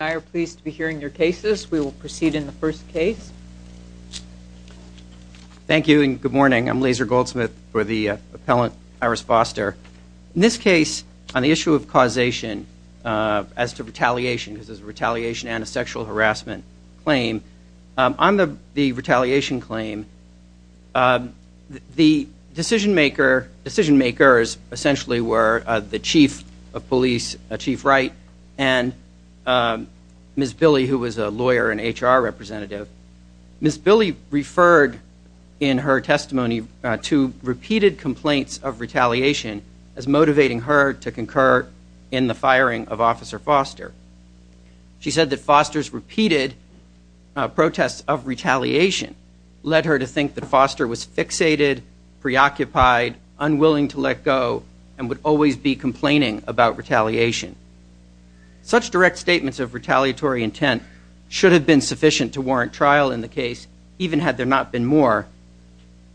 I are pleased to be hearing your cases. We will proceed in the first case. Thank you and good morning. I'm Laser Goldsmith for the appellant Iris Foster. In this case, on the issue of causation, as to retaliation, because there's a retaliation and a sexual harassment claim, on the the retaliation claim, the decision maker, decision makers, essentially, were the chief of police, Chief Wright, and Ms. Billie, who was a lawyer and HR representative. Ms. Billie referred in her testimony to repeated complaints of retaliation as motivating her to concur in the firing of Officer Foster. She said that Foster's repeated protests of retaliation led her to think that Foster was fixated, preoccupied, unwilling to let go, and would always be complaining about retaliation. Such direct statements of retaliatory intent should have been sufficient to warrant trial in the case, even had there not been more.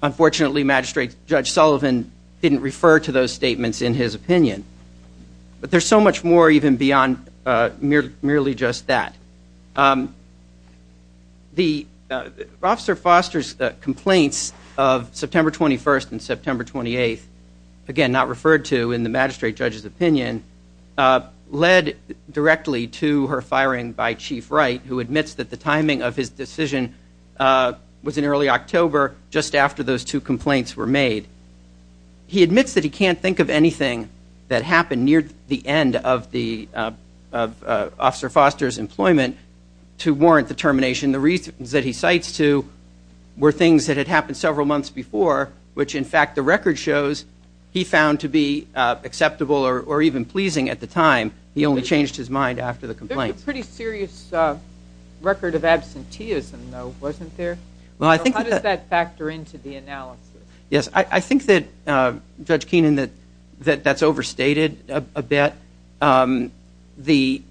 Unfortunately, Magistrate Judge Sullivan didn't refer to those statements in his opinion. But there's so much more even beyond merely just that. The Officer Foster's complaints of September 21st and September 28th, again, not referred to in the Magistrate Judge's opinion, led directly to her firing by Chief Wright, who admits that the timing of his decision was in early October, just after those two complaints were made. He admits that he can't think of anything that happened near the end of the employment to warrant the termination. The reasons that he cites to were things that had happened several months before, which in fact the record shows he found to be acceptable or even pleasing at the time. He only changed his mind after the complaints. There's a pretty serious record of absenteeism, though, wasn't there? How does that factor into the analysis? Yes, I think that, Judge Keenan, that that's overstated a bit. The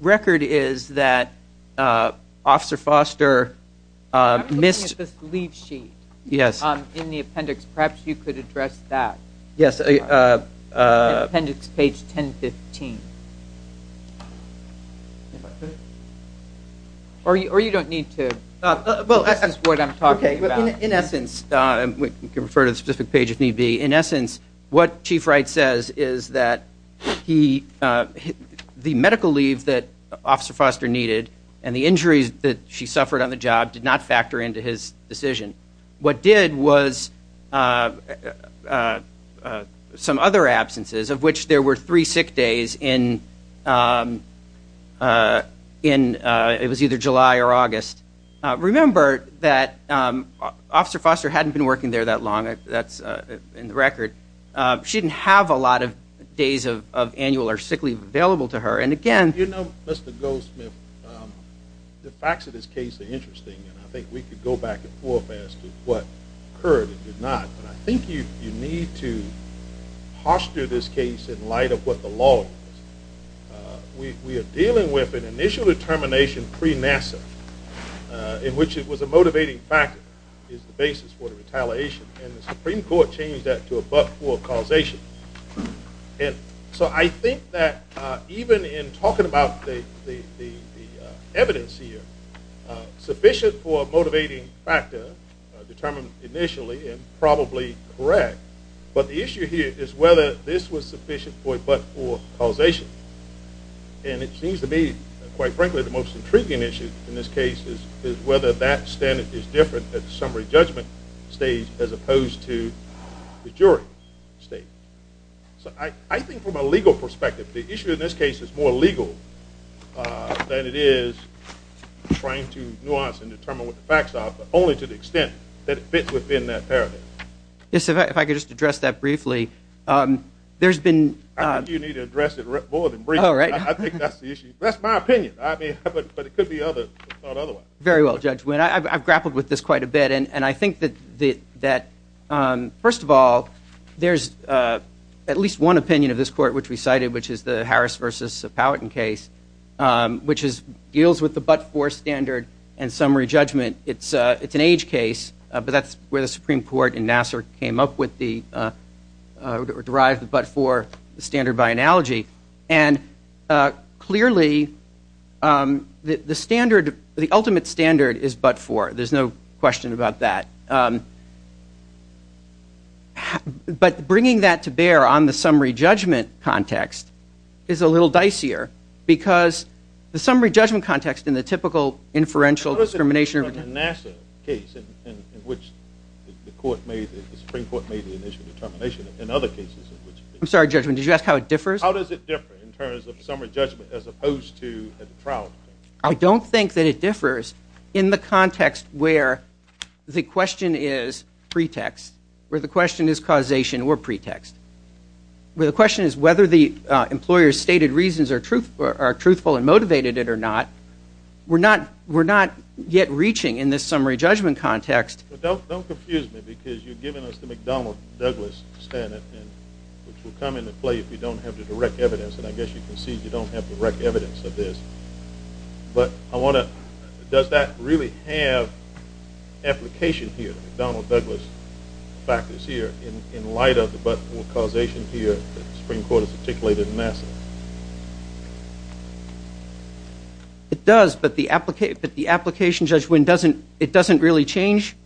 record is that Officer Foster missed... I'm looking at this leave sheet in the appendix. Perhaps you could address that. Yes. In appendix page 1015. Or you don't need to. This is what I'm talking about. In essence, you can refer to the specific page if need be. In essence, what Chief Wright says is that the medical leave that Officer Foster needed and the injuries that she suffered on the job did not factor into his decision. What did was some other absences, of which there were three sick days. It was either July or August. Remember that Officer Foster hadn't been working there that long. That's in the record. She didn't have a lot of days of annual or sick leave available to her. And again... You know, Mr. Goldsmith, the facts of this case are interesting and I think we could go back and forward as to what occurred and did not. But I think you need to posture this case in light of what the law is. We are dealing with an initial determination pre-NASA in which it was a motivating factor is the basis for the retaliation. And the Supreme Court changed that to a but-for causation. And so I think that even in talking about the evidence here, sufficient for a motivating factor determined initially and probably correct. But the issue here is whether this was sufficient for a but-for causation. And it seems to be, quite frankly, the most intriguing issue in this case is whether that standard is different at the summary judgment stage as opposed to the jury stage. So I think from a legal perspective, the issue in this case is more legal than it is trying to nuance and determine what the facts are, but only to the there's been... I think you need to address it more than briefly. I think that's the issue. That's my opinion. But it could be thought otherwise. Very well, Judge Wynn. I've grappled with this quite a bit. And I think that first of all, there's at least one opinion of this court which we cited, which is the Harris versus Powhatan case, which deals with the but-for standard and summary judgment. It's an age case, but that's where the Supreme Court and NASA came up with the derived but-for standard by analogy. And clearly, the standard, the ultimate standard is but-for. There's no question about that. But bringing that to bear on the summary judgment context is a little dicier because the summary judgment context in the typical inferential discrimination case in which the Supreme Court made the initial determination in other cases. I'm sorry, Judge Wynn. Did you ask how it differs? How does it differ in terms of summary judgment as opposed to at the trial? I don't think that it differs in the context where the question is pretext, where the question is causation or pretext, where the question is whether the employer's stated reasons are truthful and motivated it or not. We're not yet reaching in this summary judgment context. Don't confuse me because you've given us the McDonnell-Douglas standard, which will come into play if you don't have the direct evidence. And I guess you can see you don't have direct evidence of this. But I want to, does that really have application here, McDonnell-Douglas factors in light of the causation here that the Supreme Court has articulated in essence? It does, but the application, Judge Wynn, it doesn't really change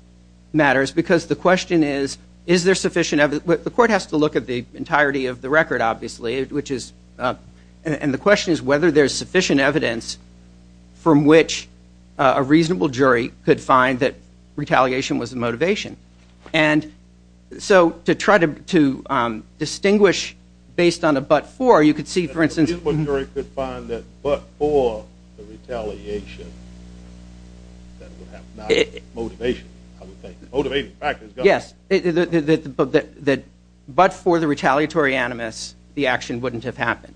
matters because the question is, is there sufficient evidence? The court has to look at the entirety of the record, obviously, which is, and the question is whether there's sufficient evidence from which a reasonable jury could find that retaliation was the motivation. And so to try to distinguish based on a but-for, you could see, for instance- A reasonable jury could find that but-for the retaliation, that would have not been motivation, I would think. Motivating factors. Yes, that but-for the retaliatory animus, the action wouldn't have happened.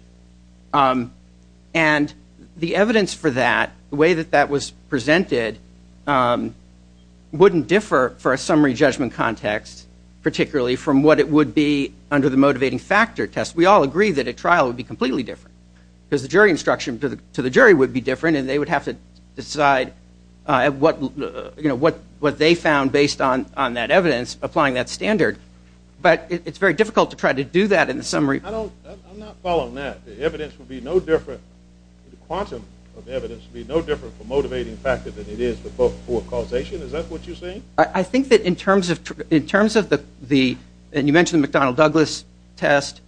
And the evidence for that, the way that that was presented wouldn't differ for a summary judgment context, particularly from what it would be under the motivating factor test. We all agree that a trial would be completely different because the jury instruction to the jury would be different and they would have to decide what they found based on that evidence, applying that standard. But it's very difficult to try to do that in the summary- I'm not following that. The evidence would be no different, the quantum of evidence would be no different for motivating factor than it is for but-for causation, is that what you're saying? I think that in terms of the, and you mentioned the McDonnell-Douglas test,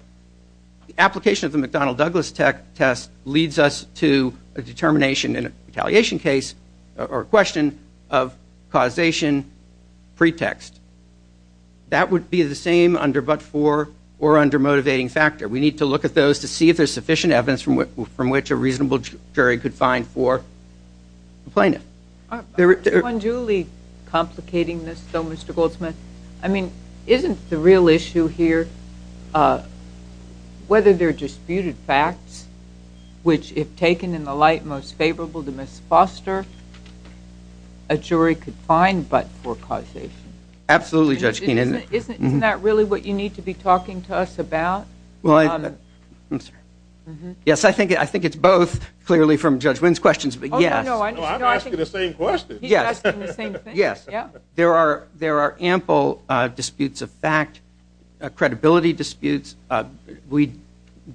the application of the McDonnell-Douglas test leads us to a determination in a retaliation case or question of causation pretext. That would be the same under but-for or under motivating factor. We need to look at those to see if there's sufficient evidence from which a reasonable jury could find for the plaintiff. I'm unduly complicating this though, Mr. Goldsmith. I mean, isn't the real issue here whether they're disputed facts which, if taken in the light most favorable to Ms. Foster, a jury could find but-for causation? Absolutely, Judge Keenan. Isn't that really what you need to be talking to us about? Yes, I think it's both, clearly from Judge Wynn's questions, but yes. No, I'm asking the same question. He's asking the same thing. There are ample disputes of fact, credibility disputes. We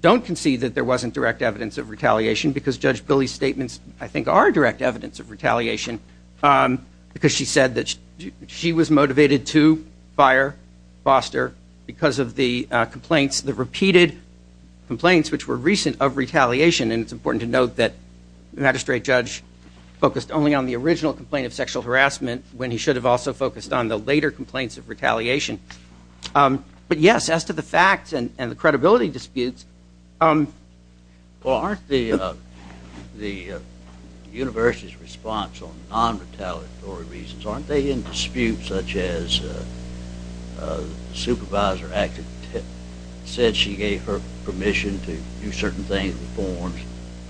don't concede that there wasn't direct evidence of retaliation because Judge Billy's statements, I think, are direct evidence of retaliation because she said that she was motivated to fire Foster because of the complaints, the repeated complaints which were recent of retaliation, and it's important to note that Magistrate Judge focused only on the original complaint of sexual harassment when he should have also focused on the later complaints of retaliation. But yes, as to the facts and the credibility disputes, Well, aren't the university's response on non-retaliatory reasons, aren't they in disputes such as the supervisor acted, said she gave her permission to do certain things with forms,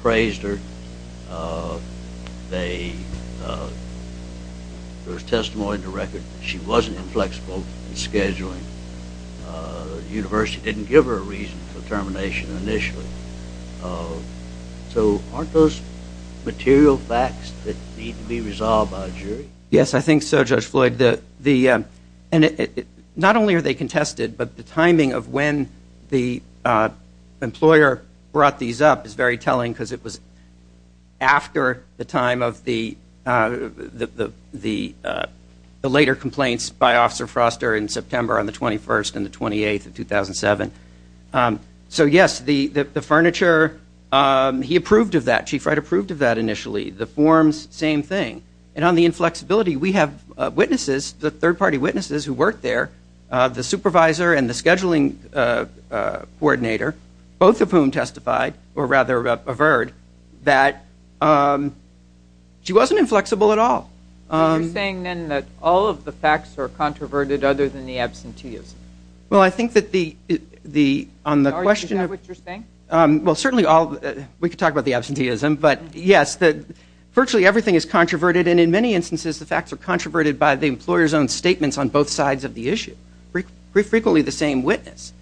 praised her, there was testimony in the record that she wasn't inflexible in scheduling, the university didn't give her a reason for termination initially. So aren't those material facts that need to be resolved by a jury? Yes, I think so, Judge Floyd. Not only are they contested, but the timing of when the because it was after the time of the later complaints by Officer Foster in September on the 21st and the 28th of 2007. So yes, the furniture, he approved of that, Chief Wright approved of that initially. The forms, same thing. And on the inflexibility, we have witnesses, the third party witnesses who worked there, the supervisor and the scheduling coordinator, both of whom testified, or rather averred, that she wasn't inflexible at all. Are you saying then that all of the facts are controverted other than the absenteeism? Well, I think that the, on the question of, well, certainly all, we could talk about the absenteeism, but yes, that virtually everything is controverted. And in many instances, the facts are controverted by the employer's own issue. Frequently the same witness.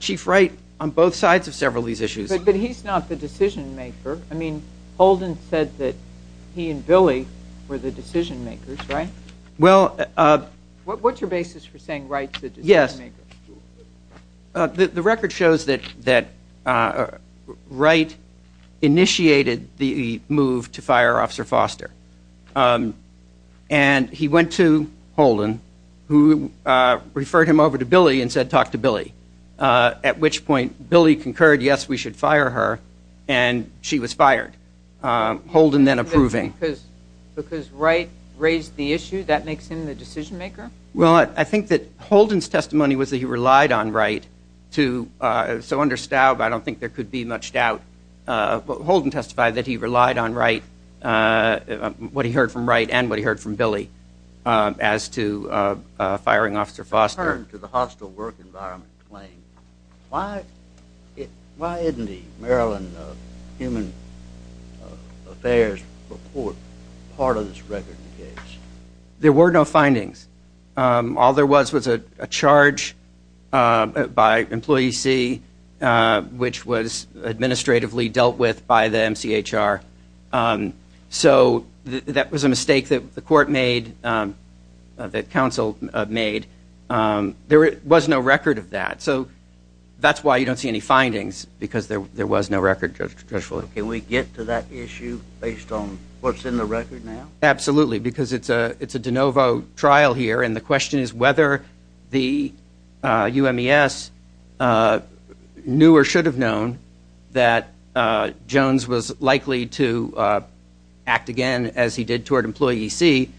Chief Wright on both sides of several of these issues. But he's not the decision maker. I mean, Holden said that he and Billy were the decision makers, right? What's your basis for saying Wright's the decision maker? Yes. The record shows that Wright initiated the move to fire Officer Foster. And he went to Holden, who referred him over to Billy and said, talk to Billy. At which point Billy concurred, yes, we should fire her. And she was fired. Holden then approving. Because Wright raised the issue, that makes him the decision maker? Well, I think that Holden's testimony was that he relied on Wright to, so under Staub, I don't think there could be much doubt. But Holden testified that he relied on Wright what he heard from Wright and what he heard from Billy as to firing Officer Foster. In return to the hostile work environment claim, why isn't the Maryland Human Affairs report part of this record? There were no findings. All there was was a charge by employee C, which was that was a mistake that the court made, that counsel made. There was no record of that. So that's why you don't see any findings, because there was no record, Judge Fuller. Can we get to that issue based on what's in the record now? Absolutely. Because it's a de novo trial here. And the question is whether the UMES knew or should have known that Jones was likely to act again as he did toward employee C.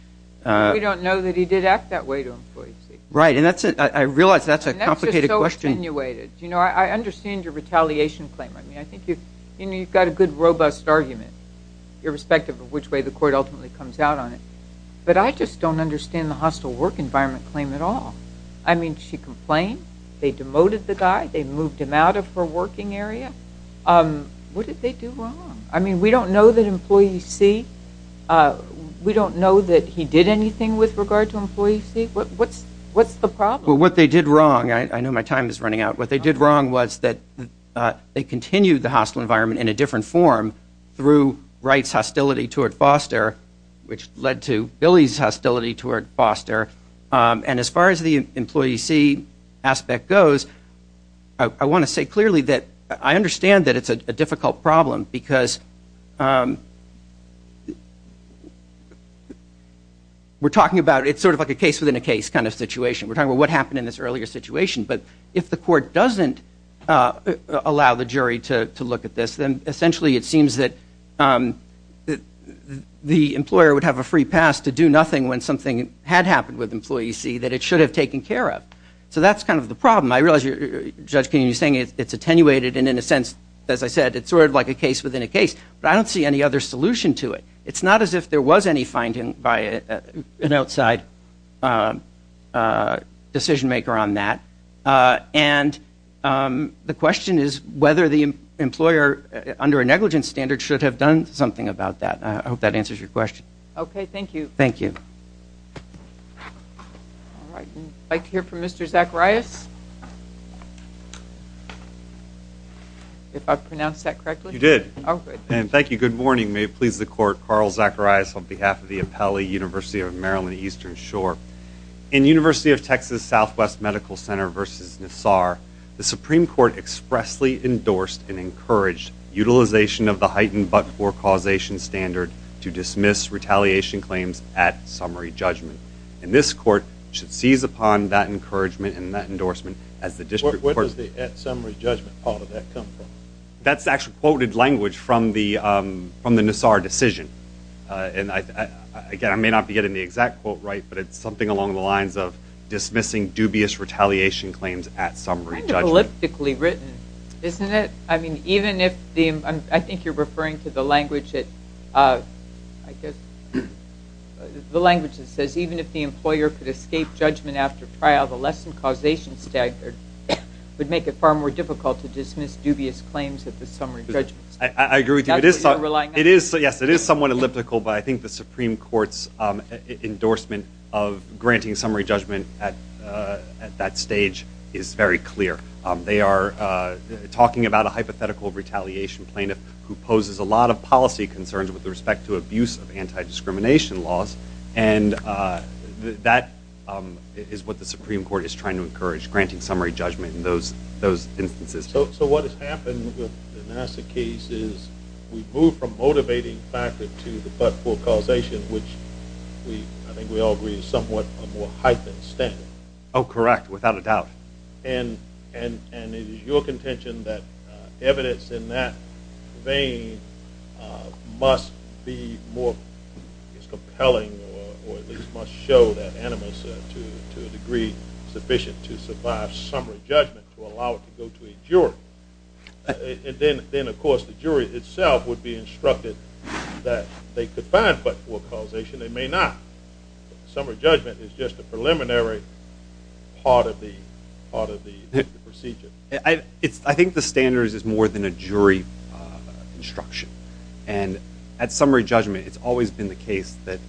We don't know that he did act that way to employee C. Right. And I realize that's a complicated question. And that's just so attenuated. You know, I understand your retaliation claim. I mean, I think you've got a good robust argument, irrespective of which way the court ultimately comes out on it. But I just don't understand the hostile work environment claim at all. I mean, she complained. They demoted the guy. They moved him out of her working area. What did they do wrong? I mean, we don't know that employee C, we don't know that he did anything with regard to employee C. What's the problem? Well, what they did wrong, I know my time is running out. What they did wrong was that they continued the hostile environment in a different form through Wright's hostility toward Foster, which led to Billy's hostility toward Foster. And as far as the employee C aspect goes, I want to say clearly that I understand that it's a difficult problem because we're talking about it's sort of like a case within a case kind of situation. We're talking about what happened in this earlier situation. But if the court doesn't allow the jury to look at this, then essentially it seems that the employer would have a free pass to do nothing when something had happened with employee C that it should have taken care of. So that's kind of the problem. I realize, Judge Kennedy, you're saying it's attenuated. And in a sense, as I said, it's sort of like a case within a case. But I don't see any other solution to it. It's not as if there was any finding by an outside decision maker on that. And the question is whether the under a negligence standard should have done something about that. I hope that answers your question. Okay. Thank you. Thank you. All right. I'd like to hear from Mr. Zacharias. If I pronounced that correctly? You did. Oh, good. And thank you. Good morning. May it please the court. Carl Zacharias on behalf of the Appellee University of Maryland Eastern Shore. In University of Texas Southwest Medical Center versus Nassar, the Supreme Court expressly endorsed and encouraged utilization of the heightened but-for causation standard to dismiss retaliation claims at summary judgment. And this court should seize upon that encouragement and that endorsement as the district court. Where does the at summary judgment part of that come from? That's actually quoted language from the Nassar decision. And again, I may not be getting the exact quote right, but it's something along the lines of dismissing dubious retaliation claims at summary judgment. Kind of elliptically written, isn't it? I mean, even if the, I think you're referring to the language that, I guess, the language that says even if the employer could escape judgment after trial, the lessened causation standard would make it far more difficult to dismiss dubious claims at the summary judgment. I agree with you. It is somewhat elliptical, but I think the Supreme Court's endorsement of granting summary judgment at that stage is very clear. They are talking about a hypothetical retaliation plaintiff who poses a lot of policy concerns with respect to abuse of anti-discrimination laws. And that is what the Supreme Court is trying to encourage, granting summary judgment in those instances. So what has happened with the Nassar case is we've moved from motivating factor to the but-for causation, which I think we all agree is somewhat a more heightened standard. Oh, correct, without a doubt. And it is your contention that evidence in that vein must be more compelling, or at least must show that animus to a degree sufficient to survive summary judgment to allow it to go to a jury. And then, of course, the jury itself would be instructed that they could find but-for causation. They may not. Summary judgment is just a preliminary part of the procedure. I think the standard is more than a jury instruction. And at summary judgment, it's always been the case that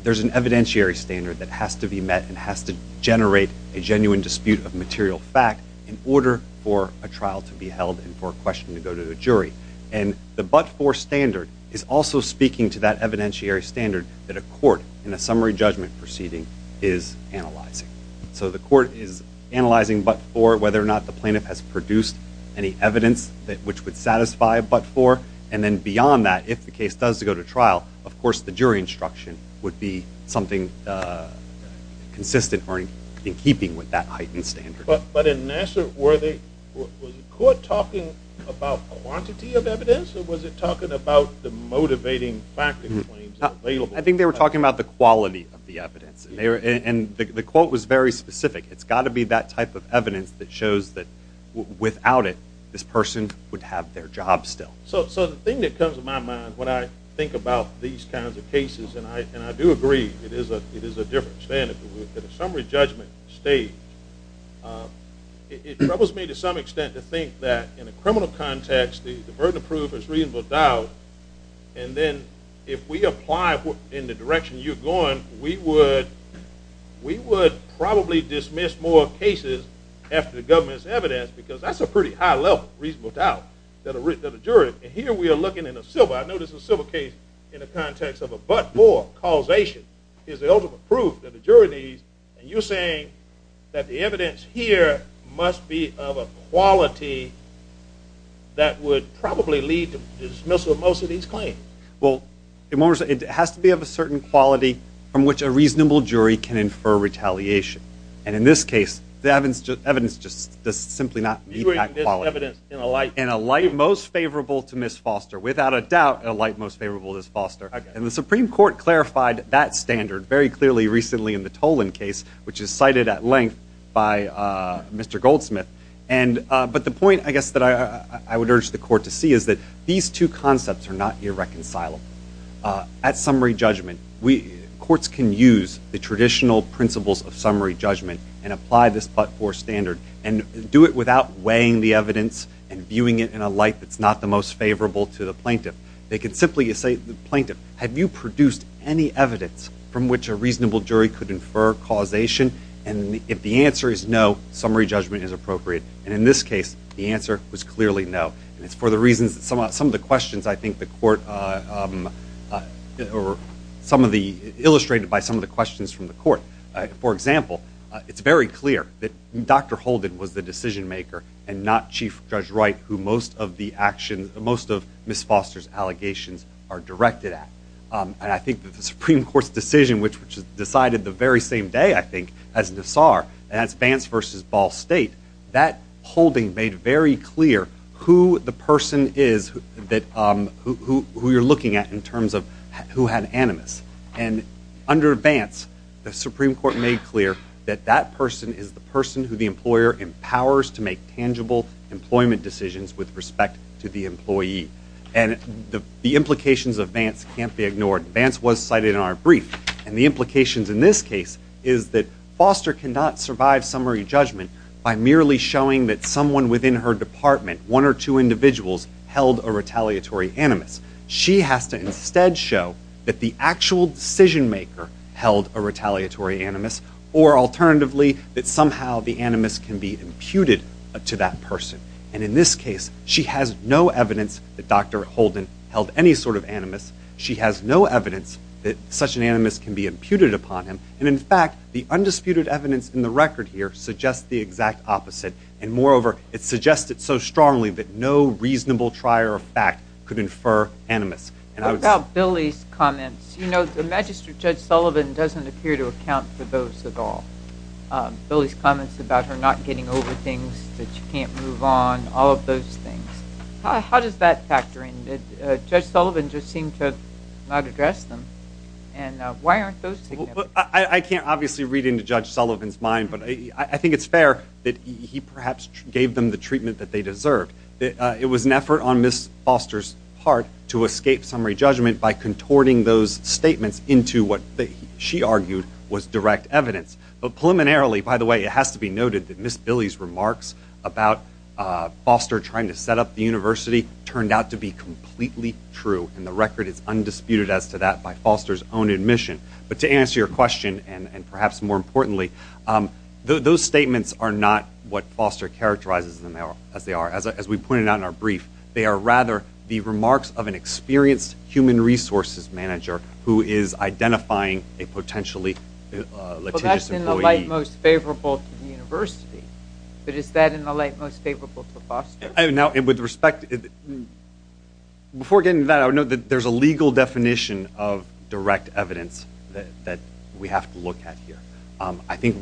there's an evidentiary standard that has to be met and has to generate a genuine dispute of material fact in order for a trial to be held and for a question to go to the jury. And the but-for standard is also speaking to that evidentiary standard that a court in a summary judgment proceeding is analyzing. So the court is analyzing but-for whether or not the plaintiff has produced any evidence which would satisfy a but-for. And then beyond that, if the case does go to trial, of course, the jury instruction would be something consistent or in keeping with that heightened standard. But in Nassar, was the court talking about quantity of evidence, or was it talking about the motivating factors? I think they were talking about the quality of the evidence. And the quote was very specific. It's got to be that type of evidence that shows that without it, this person would have their job still. So the thing that comes to my mind when I think about these kinds of cases, and I do agree, it is a different standard. But at a summary judgment stage, it troubles me to some extent to think that in a criminal context, the burden of proof is reasonable doubt. And then if we apply in the direction you're going, we would probably dismiss more cases after the government's evidence, because that's a pretty high level of reasonable doubt that a jury. And here we are looking in a civil. I know this is a civil case in the context of a but-for causation is the ultimate proof that the jury needs. And you're saying that the evidence here must be of a quality that would probably lead to dismissal of most of these claims. Well, it has to be of a certain quality from which a reasonable jury can infer retaliation. And in this case, the evidence just does simply not meet that quality. You mean this evidence in a light? In a light most favorable to Ms. Foster. Without a doubt, a light most favorable to Ms. Foster. And the Supreme Court clarified that standard very clearly recently in the Tolan case, which is cited at length by Mr. Goldsmith. But the point, I guess, that I would urge the court to see is that these two concepts are not irreconcilable. At summary judgment, courts can use the traditional principles of summary judgment and apply this but-for standard. And do it without weighing the evidence and viewing it in a light that's not the most favorable to the plaintiff. They could simply say to the plaintiff, have you produced any evidence from which a reasonable jury could infer causation? And if the answer is no, summary judgment is appropriate. And in this case, the answer was clearly no. And it's for the reasons that some of the questions, I think, the court or some of the illustrated by some of the questions from the court. For example, it's very clear that Dr. Holden was the decision maker and not Chief Judge Wright, who most of the actions, most of Ms. Foster's allegations are directed at. And I think that the Supreme Court's decision, which was decided the very same day, I think, as Nassar, that's Vance versus Ball State, that holding made very clear who the person is that who you're looking at in terms of who had animus. And under Vance, the Supreme Court made clear that that person is the person who the employer empowers to make tangible employment decisions with respect to the employee. And the implications of Vance can't be ignored. Vance was cited in our brief. And the implications in this case is that Foster cannot survive summary judgment by merely showing that someone within her department, one or two individuals, held a retaliatory animus. She has to instead show that the actual decision maker held a retaliatory animus, or alternatively, that somehow the animus can be imputed to that person. And in this case, she has no evidence that Dr. Holden held any sort of animus. She has no evidence that such an animus can be imputed upon him. And in fact, the undisputed evidence in the record here suggests the exact opposite. And moreover, it suggests it so strongly that no reasonable trier of fact could infer animus. And I would say- What about Billie's comments? You know, the magistrate, Judge Sullivan, doesn't appear to account for those at all. Billie's comments about her not getting over things that she can't move on, all of those things. How does that not address them? And why aren't those- I can't obviously read into Judge Sullivan's mind, but I think it's fair that he perhaps gave them the treatment that they deserved. It was an effort on Ms. Foster's part to escape summary judgment by contorting those statements into what she argued was direct evidence. But preliminarily, by the way, it has to be noted that Ms. Billie's remarks about Foster trying to set up the university turned out to be completely true. And the record is undisputed as to that by Foster's own admission. But to answer your question, and perhaps more importantly, those statements are not what Foster characterizes them as they are. As we pointed out in our brief, they are rather the remarks of an experienced human resources manager who is identifying a potentially litigious employee. Well, that's in the light most favorable to the university. But is that in the light most favorable to Foster? Now, with respect, before getting to that, I would note that there's a legal definition of direct evidence that we have to look at here. I think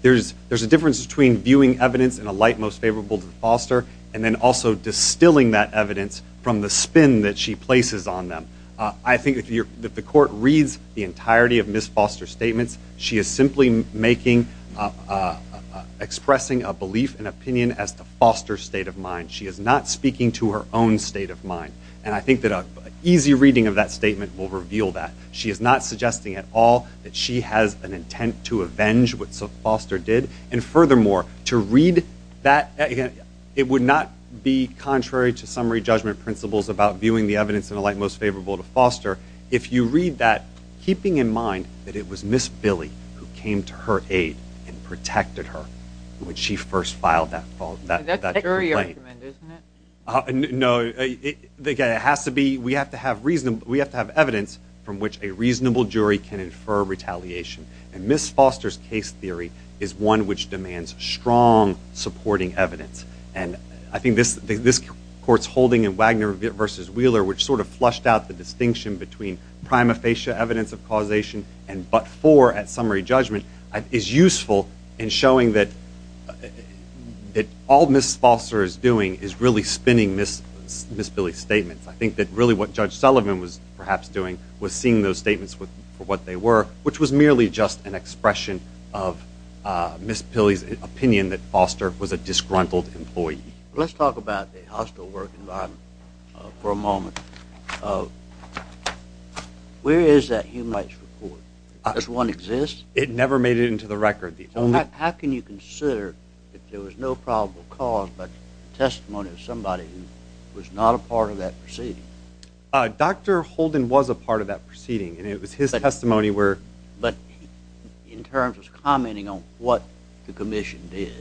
there's a difference between viewing evidence in a light most favorable to Foster and then also distilling that evidence from the spin that she places on them. I think if the court reads the entirety of Ms. Foster's statements, she is simply expressing a belief and opinion as to Foster's state of mind. She is not speaking to her own state of mind. And I think that an easy reading of that statement will reveal that. She is not suggesting at all that she has an intent to avenge what Foster did. And furthermore, to read that, it would not be contrary to summary judgment principles about viewing the evidence in keeping in mind that it was Ms. Billy who came to her aid and protected her when she first filed that complaint. That's a jury argument, isn't it? No. We have to have evidence from which a reasonable jury can infer retaliation. And Ms. Foster's case theory is one which demands strong supporting evidence. And I think this court's holding in Wagner v. Wheeler, which sort of flushed out the distinction between prima facie evidence of causation and but for at summary judgment, is useful in showing that all Ms. Foster is doing is really spinning Ms. Billy's statements. I think that really what Judge Sullivan was perhaps doing was seeing those statements for what they were, which was merely just an expression of Ms. Billy's opinion that Foster was a disgruntled employee. Let's talk about the hostile work environment for a moment. Where is that human rights report? Does one exist? It never made it into the record. How can you consider that there was no probable cause but testimony of somebody who was not a part of that proceeding? Dr. Holden was a part of that proceeding, and it was his testimony where... But in terms of commenting on what the commission did,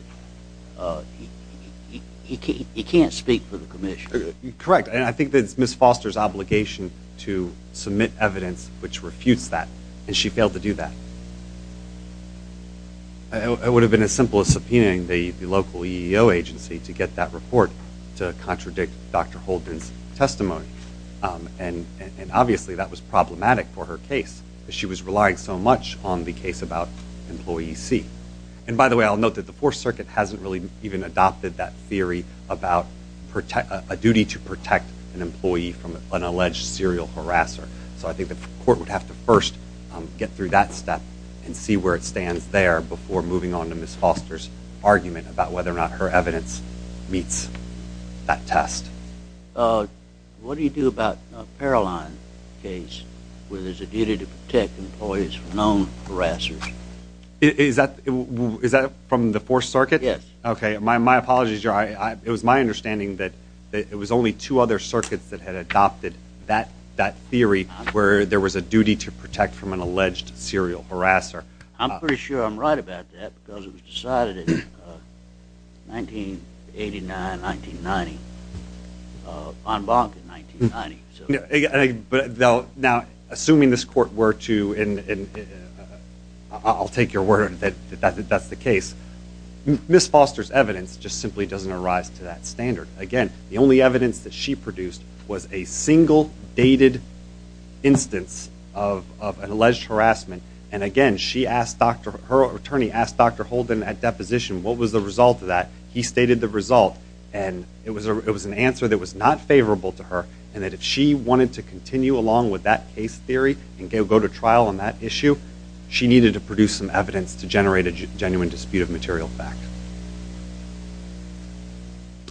he can't speak for the commission. Correct. And I think that it's Ms. Foster's obligation to submit evidence which refutes that. And she failed to do that. It would have been as simple as subpoenaing the local EEO agency to get that report to contradict Dr. Holden's testimony. And obviously that was problematic for her case. She was relying so much on the case about Employee C. And by the way, I'll note that the Fourth Circuit hasn't really even adopted that theory about a duty to protect an employee from an alleged serial harasser. So I think the court would have to first get through that step and see where it stands there before moving on to Ms. Foster's argument about whether or not her evidence meets that test. Uh, what do you do about a Paroline case where there's a duty to protect employees from known harassers? Is that from the Fourth Circuit? Yes. Okay. My apologies, your honor. It was my understanding that it was only two other circuits that had adopted that theory where there was a duty to protect from an alleged serial harasser. I'm pretty sure I'm right about that because it was decided in 1989-1990, uh, en banc in 1990. Yeah, but now, assuming this court were to, and I'll take your word that that's the case, Ms. Foster's evidence just simply doesn't arise to that standard. Again, the only evidence that she produced was a single dated instance of an alleged harassment. And again, she asked Dr., stated the result and it was a, it was an answer that was not favorable to her. And that if she wanted to continue along with that case theory and go to trial on that issue, she needed to produce some evidence to generate a genuine dispute of material fact.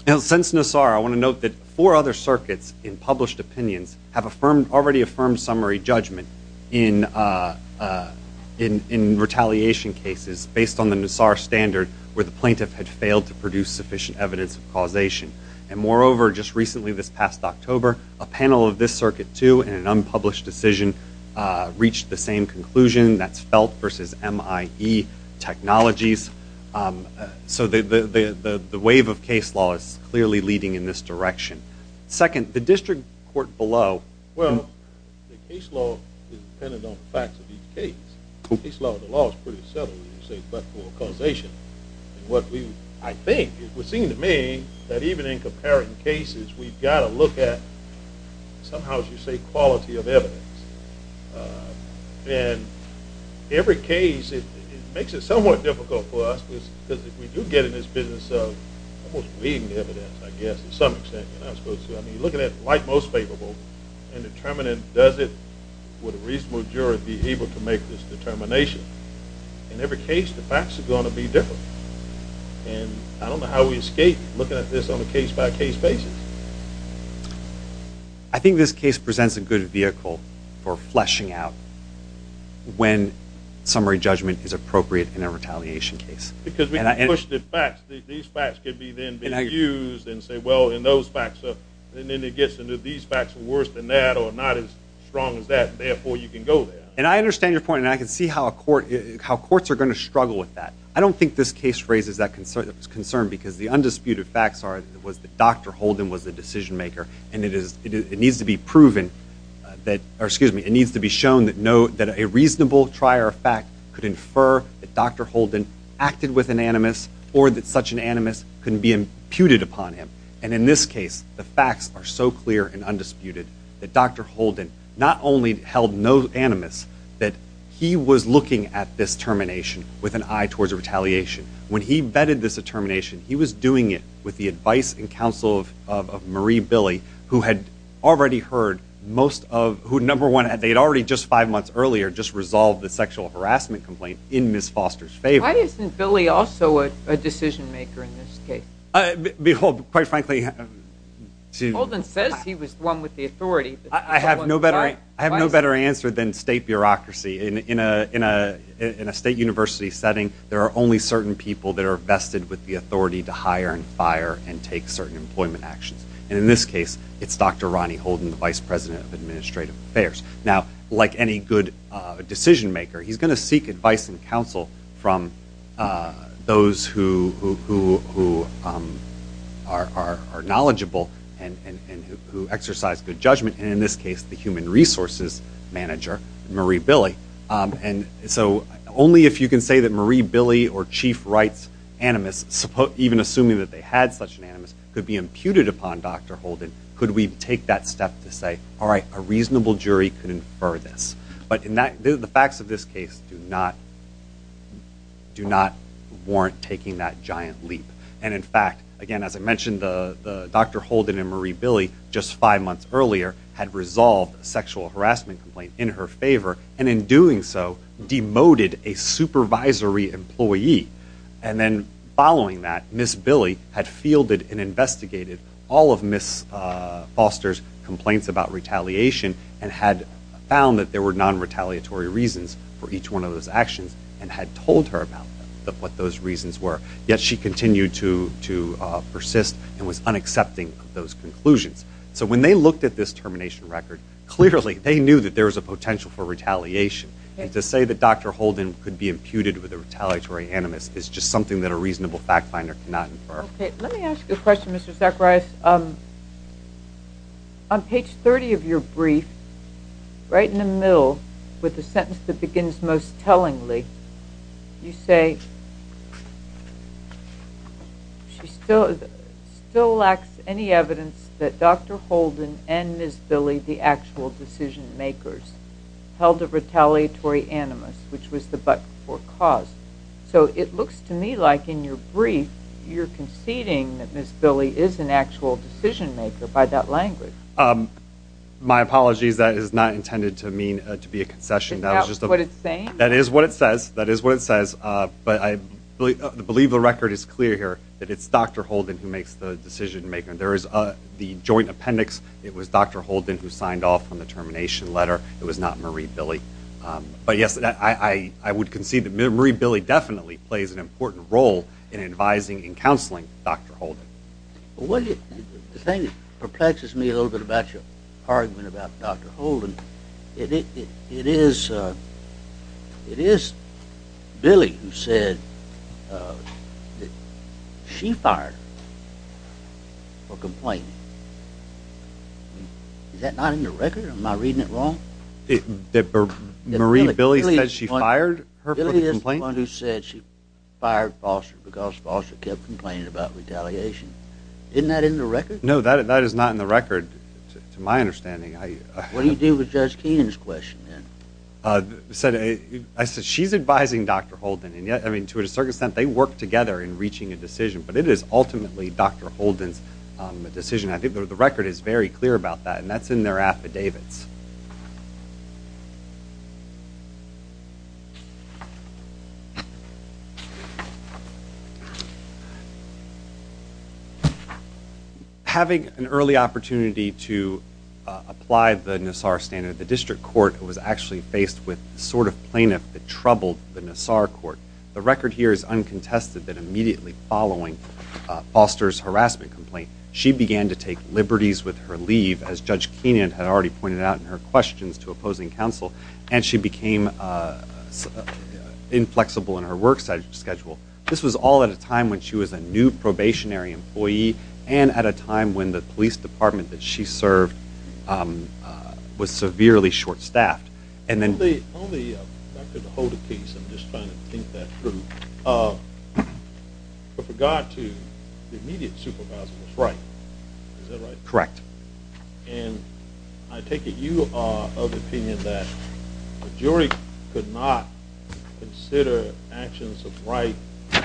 Now, since Nassar, I want to note that four other circuits in published opinions have affirmed, already affirmed summary judgment in, uh, uh, in, in retaliation cases based on Nassar standard where the plaintiff had failed to produce sufficient evidence of causation. And moreover, just recently this past October, a panel of this circuit too, in an unpublished decision, uh, reached the same conclusion that's felt versus MIE technologies. Um, uh, so the, the, the, the, the wave of case law is clearly leading in this direction. Second, the district court below. Well, the case law is dependent on the facts of each case. Case law, the law is pretty subtle when you say but for causation. And what we, I think, it would seem to me that even in comparing cases, we've got to look at somehow, as you say, quality of evidence. Uh, and every case, it, it makes it somewhat difficult for us because if we do get in this business of almost weeding the evidence, I guess, to some extent, you're not supposed to, I mean, looking at like most favorable and determining does it, would a reasonable juror be able to make this determination? In every case, the facts are going to be different. And I don't know how we escape looking at this on a case by case basis. I think this case presents a good vehicle for fleshing out when summary judgment is appropriate in a retaliation case. Because we can push the facts. These facts could be then used and say, well, and those facts are, and then it gets into these facts are worse than that or not as strong as that. And I understand your point. And I can see how a court, how courts are going to struggle with that. I don't think this case raises that concern because the undisputed facts are, was that Dr. Holden was the decision maker. And it is, it needs to be proven that, or excuse me, it needs to be shown that no, that a reasonable trier of fact could infer that Dr. Holden acted with an animus or that such an animus couldn't be imputed upon him. And in this case, the facts are so clear and undisputed that Dr. Holden not only held no that he was looking at this termination with an eye towards retaliation. When he vetted this determination, he was doing it with the advice and counsel of Marie Billy, who had already heard most of, who number one, they'd already just five months earlier, just resolved the sexual harassment complaint in Ms. Foster's favor. Why isn't Billy also a decision maker in this case? Behold, quite frankly. Holden says he was the one with the authority. I have no better, I have no better answer than state bureaucracy. In a, in a, in a state university setting, there are only certain people that are vested with the authority to hire and fire and take certain employment actions. And in this case, it's Dr. Ronnie Holden, the Vice President of Administrative Affairs. Now, like any good decision maker, he's going to seek advice and counsel from those who, who, who are, are, are knowledgeable and, and, and who, who exercise good judgment. And in this case, the Human Resources Manager, Marie Billy. And so, only if you can say that Marie Billy or Chief Rights Animus, even assuming that they had such an animus, could be imputed upon Dr. Holden, could we take that step to say, all right, a reasonable jury could infer this. But in that, the facts of this case do not, do not warrant taking that giant leap. And in fact, again, as I mentioned, the, the Dr. Holden and Marie Billy, just five months earlier, had resolved a sexual harassment complaint in her favor. And in doing so, demoted a supervisory employee. And then following that, Ms. Billy had fielded and investigated all of Ms. Foster's complaints about retaliation and had found that there were non-retaliatory reasons for each one of those actions and had told her about them, what those reasons were. Yet she continued to, to persist and was unaccepting of those conclusions. So when they looked at this termination record, clearly they knew that there was a potential for retaliation. And to say that Dr. Holden could be imputed with a retaliatory animus is just something that a reasonable fact finder cannot infer. Okay, let me ask you a question, Mr. Zacharias. On page 30 of your brief, right in the middle, with the sentence that begins most tellingly, you say, she still, still lacks any evidence that Dr. Holden and Ms. Billy, the actual decision makers, held a retaliatory animus, which was the but-for cause. So it looks to me like in your brief, you're conceding that Ms. Billy is an actual decision maker by that language. My apologies, that is not intended to mean, to be a concession. Is that what it's saying? That is what it says. That is what it says. But I believe the record is clear here that it's Dr. Holden who makes the decision making. There is the joint appendix. It was Dr. Holden who signed off on the termination letter. It was not Marie Billy. But yes, I would concede that Marie Billy definitely plays an important role in advising and counseling Dr. Holden. The thing that perplexes me a little bit about your argument about Dr. Holden, it is Billy who said that she fired her for complaining. Is that not in the record? Am I reading it wrong? That Marie Billy said she fired her for the complaint? Billy is the one who said she fired Foster because Foster kept complaining about retaliation. Isn't that in the record? No, that is not in the record, to my understanding. What do you do with Judge Keenan's question then? I said she's advising Dr. Holden. And yet, to a certain extent, they work together in reaching a decision. But it is ultimately Dr. Holden's decision. I think the record is very clear about that. And that's in their affidavits. Having an early opportunity to apply the Nassar standard, the district court was actually faced with the sort of plaintiff that troubled the Nassar court. The record here is uncontested that immediately following Foster's harassment complaint, she began to take liberties with her leave, as Judge Keenan had already pointed out in his And that's in the affidavit. Her questions to opposing counsel. And she became inflexible in her work schedule. This was all at a time when she was a new probationary employee, and at a time when the police department that she served was severely short-staffed. Dr. Holden's case, I'm just trying to think that through. But for God's sake, the immediate supervisor was right. Is that right? Correct. And I take it you are of the opinion that the jury could not consider actions of right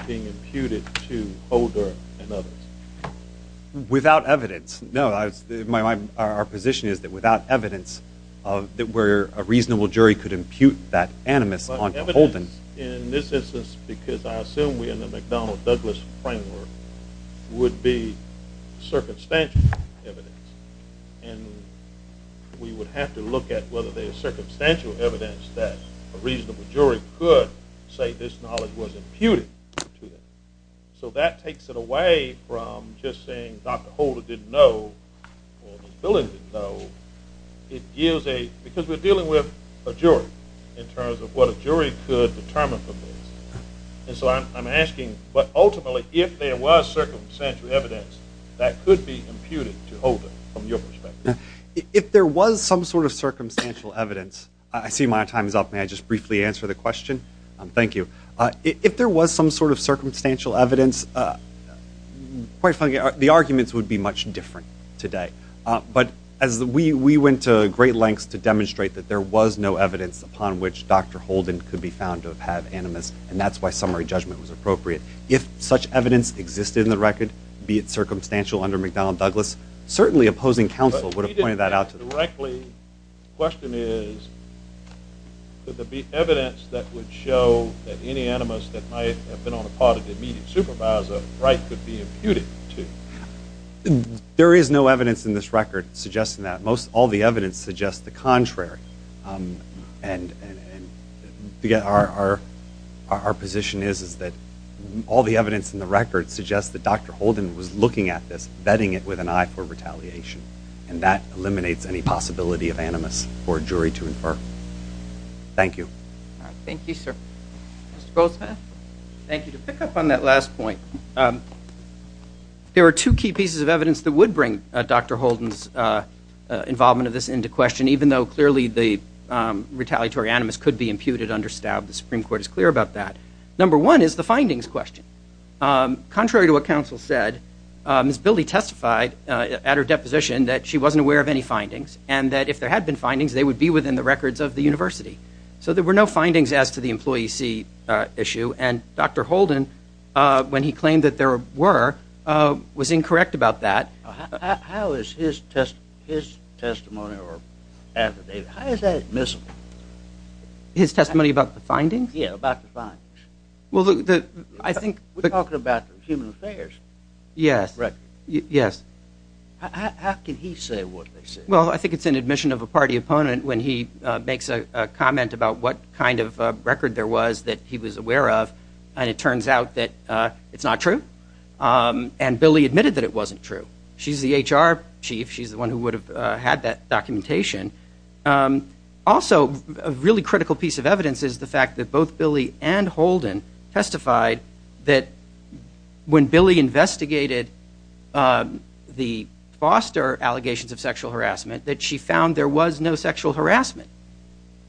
being imputed to Holder and others? Without evidence. No, our position is that without evidence, that where a reasonable jury could impute that animus onto Holden. In this instance, because I assume we're in the McDonnell Douglas framework, would be circumstantial evidence. And we would have to look at whether there's circumstantial evidence that a reasonable jury could say this knowledge was imputed to them. So that takes it away from just saying Dr. Holden didn't know, or Ms. Billings didn't know. It gives a, because we're dealing with a jury, in terms of what a jury could determine from this. And so I'm asking, but ultimately, if there was circumstantial evidence that could be imputed to Holden, from your perspective. If there was some sort of circumstantial evidence, I see my time is up. May I just briefly answer the question? Thank you. If there was some sort of circumstantial evidence, quite frankly, the arguments would be much different today. But as we went to great lengths to demonstrate that there was no evidence upon which Dr. Holden could be found to have animus, and that's why summary judgment was circumstantial under McDonnell Douglas, certainly opposing counsel would have pointed that out. But if he didn't know directly, the question is, could there be evidence that would show that any animus that might have been on the part of the immediate supervisor, Wright could be imputed to? There is no evidence in this record suggesting that. All the evidence suggests the contrary. And our position is that all the evidence in the record suggests that Dr. Holden was looking at this, vetting it with an eye for retaliation. And that eliminates any possibility of animus for a jury to infer. Thank you. Thank you, sir. Mr. Goldsmith? Thank you. To pick up on that last point, there are two key pieces of evidence that would bring Dr. Holden's involvement of this into question, even though clearly the retaliatory animus could be imputed under STAB. The Supreme Court is clear about that. Number one is the findings question. Contrary to what counsel said, Ms. Bilde testified at her deposition that she wasn't aware of any findings, and that if there had been findings, they would be within the records of the university. So there were no findings as to the employee see issue. And Dr. Holden, when he claimed that there were, was incorrect about that. How is his testimony or affidavit, how is that admissible? His testimony about the findings? Yeah, about the findings. Well, I think- We're talking about human affairs. Yes, yes. How can he say what they say? Well, I think it's an admission of a party opponent when he makes a comment about what kind of record there was that he was aware of, and it turns out that it's not true. And Billy admitted that it wasn't true. She's the HR chief. She's the one who would have had that documentation. Also, a really critical piece of evidence is the fact that both Billy and Holden testified that when Billy investigated the Foster allegations of sexual harassment, that she found there was no sexual harassment.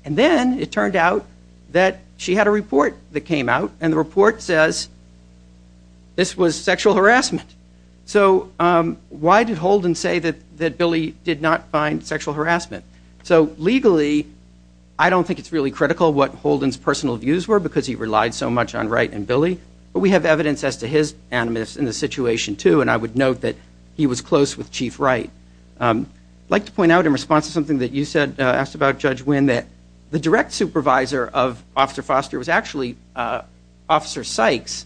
And then it turned out that she had a report that came out, and the report says this was sexual harassment. So why did Holden say that Billy did not find sexual harassment? So legally, I don't think it's really critical what Holden's personal views were because he relied so much on Wright and Billy, but we have evidence as to his animus in the situation too, and I would note that he was close with Chief Wright. I'd like to point out in response to something that you said, asked about Judge Wynn, that direct supervisor of Officer Foster was actually Officer Sykes,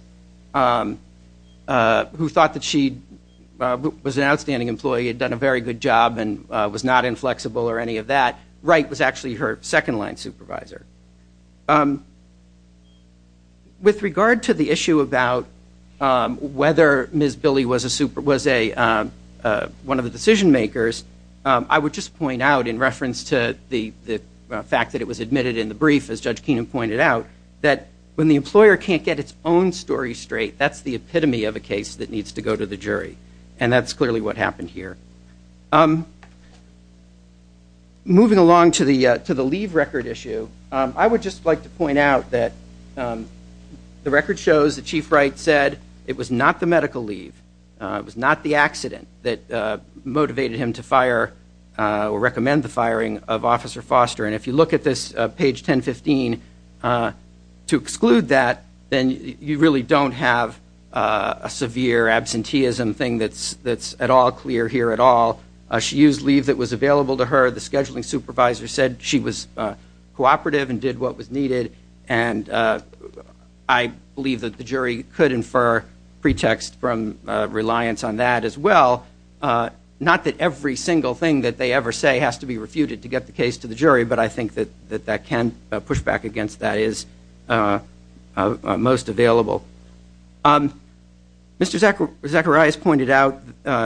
who thought that she was an outstanding employee, had done a very good job, and was not inflexible or any of that. Wright was actually her second-line supervisor. With regard to the issue about whether Ms. Billy was one of the decision makers, I would just point out in reference to the fact that it was admitted in the brief, as Judge Keenan pointed out, that when the employer can't get its own story straight, that's the epitome of a case that needs to go to the jury, and that's clearly what happened here. Moving along to the leave record issue, I would just like to point out that the record shows that Chief Wright said it was not the medical leave, it was not the accident that recommended the firing of Officer Foster. And if you look at this, page 1015, to exclude that, then you really don't have a severe absenteeism thing that's at all clear here at all. She used leave that was available to her. The scheduling supervisor said she was cooperative and did what was needed, and I believe that the jury could infer pretext from reliance on that as well. Not that every single thing that they ever say has to be refuted to get the case to the jury, but I think that that can push back against that is most available. Mr. Zacharias pointed out,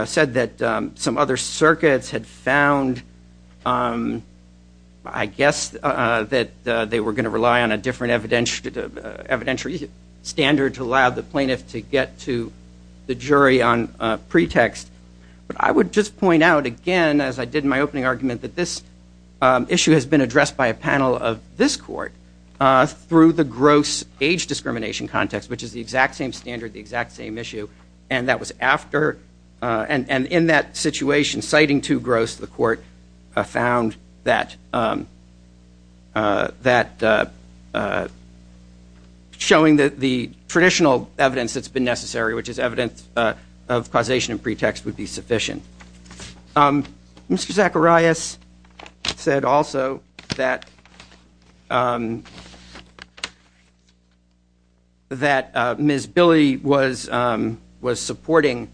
said that some other circuits had found, I guess, that they were going to rely on a different evidentiary standard to allow the plaintiff to get to the jury on pretext. But I would just point out again, as I did in my opening argument, that this issue has been addressed by a panel of this court through the gross age discrimination context, which is the exact same standard, the exact same issue. And that was after, and in that situation, citing too gross, the court found that showing the traditional evidence that's been necessary, which is evidence of causation and pretext, would be sufficient. Mr. Zacharias said also that Ms. Billy was supporting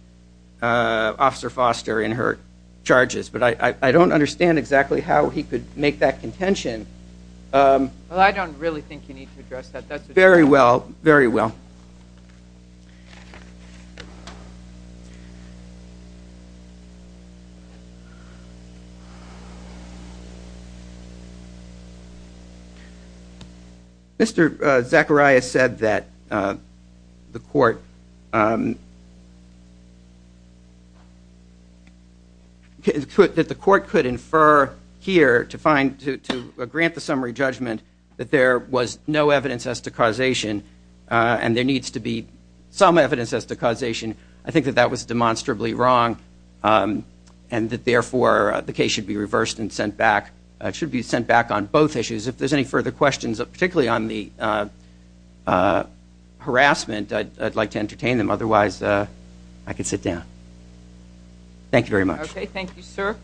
Officer Foster in her charges, but I don't understand exactly how he could make that contention. Well, I don't really think you need to address that. Very well, very well. Mr. Zacharias said that the court could infer here to grant the summary judgment that there was no evidence as to causation, and there needs to be some evidence as to causation. I think that that was demonstrably wrong, and that therefore, the case should be reversed and sent back. It should be sent back on both issues. If there's any further questions, particularly on the harassment, I'd like to entertain them. Otherwise, I could sit down. Thank you very much. Okay, thank you, sir.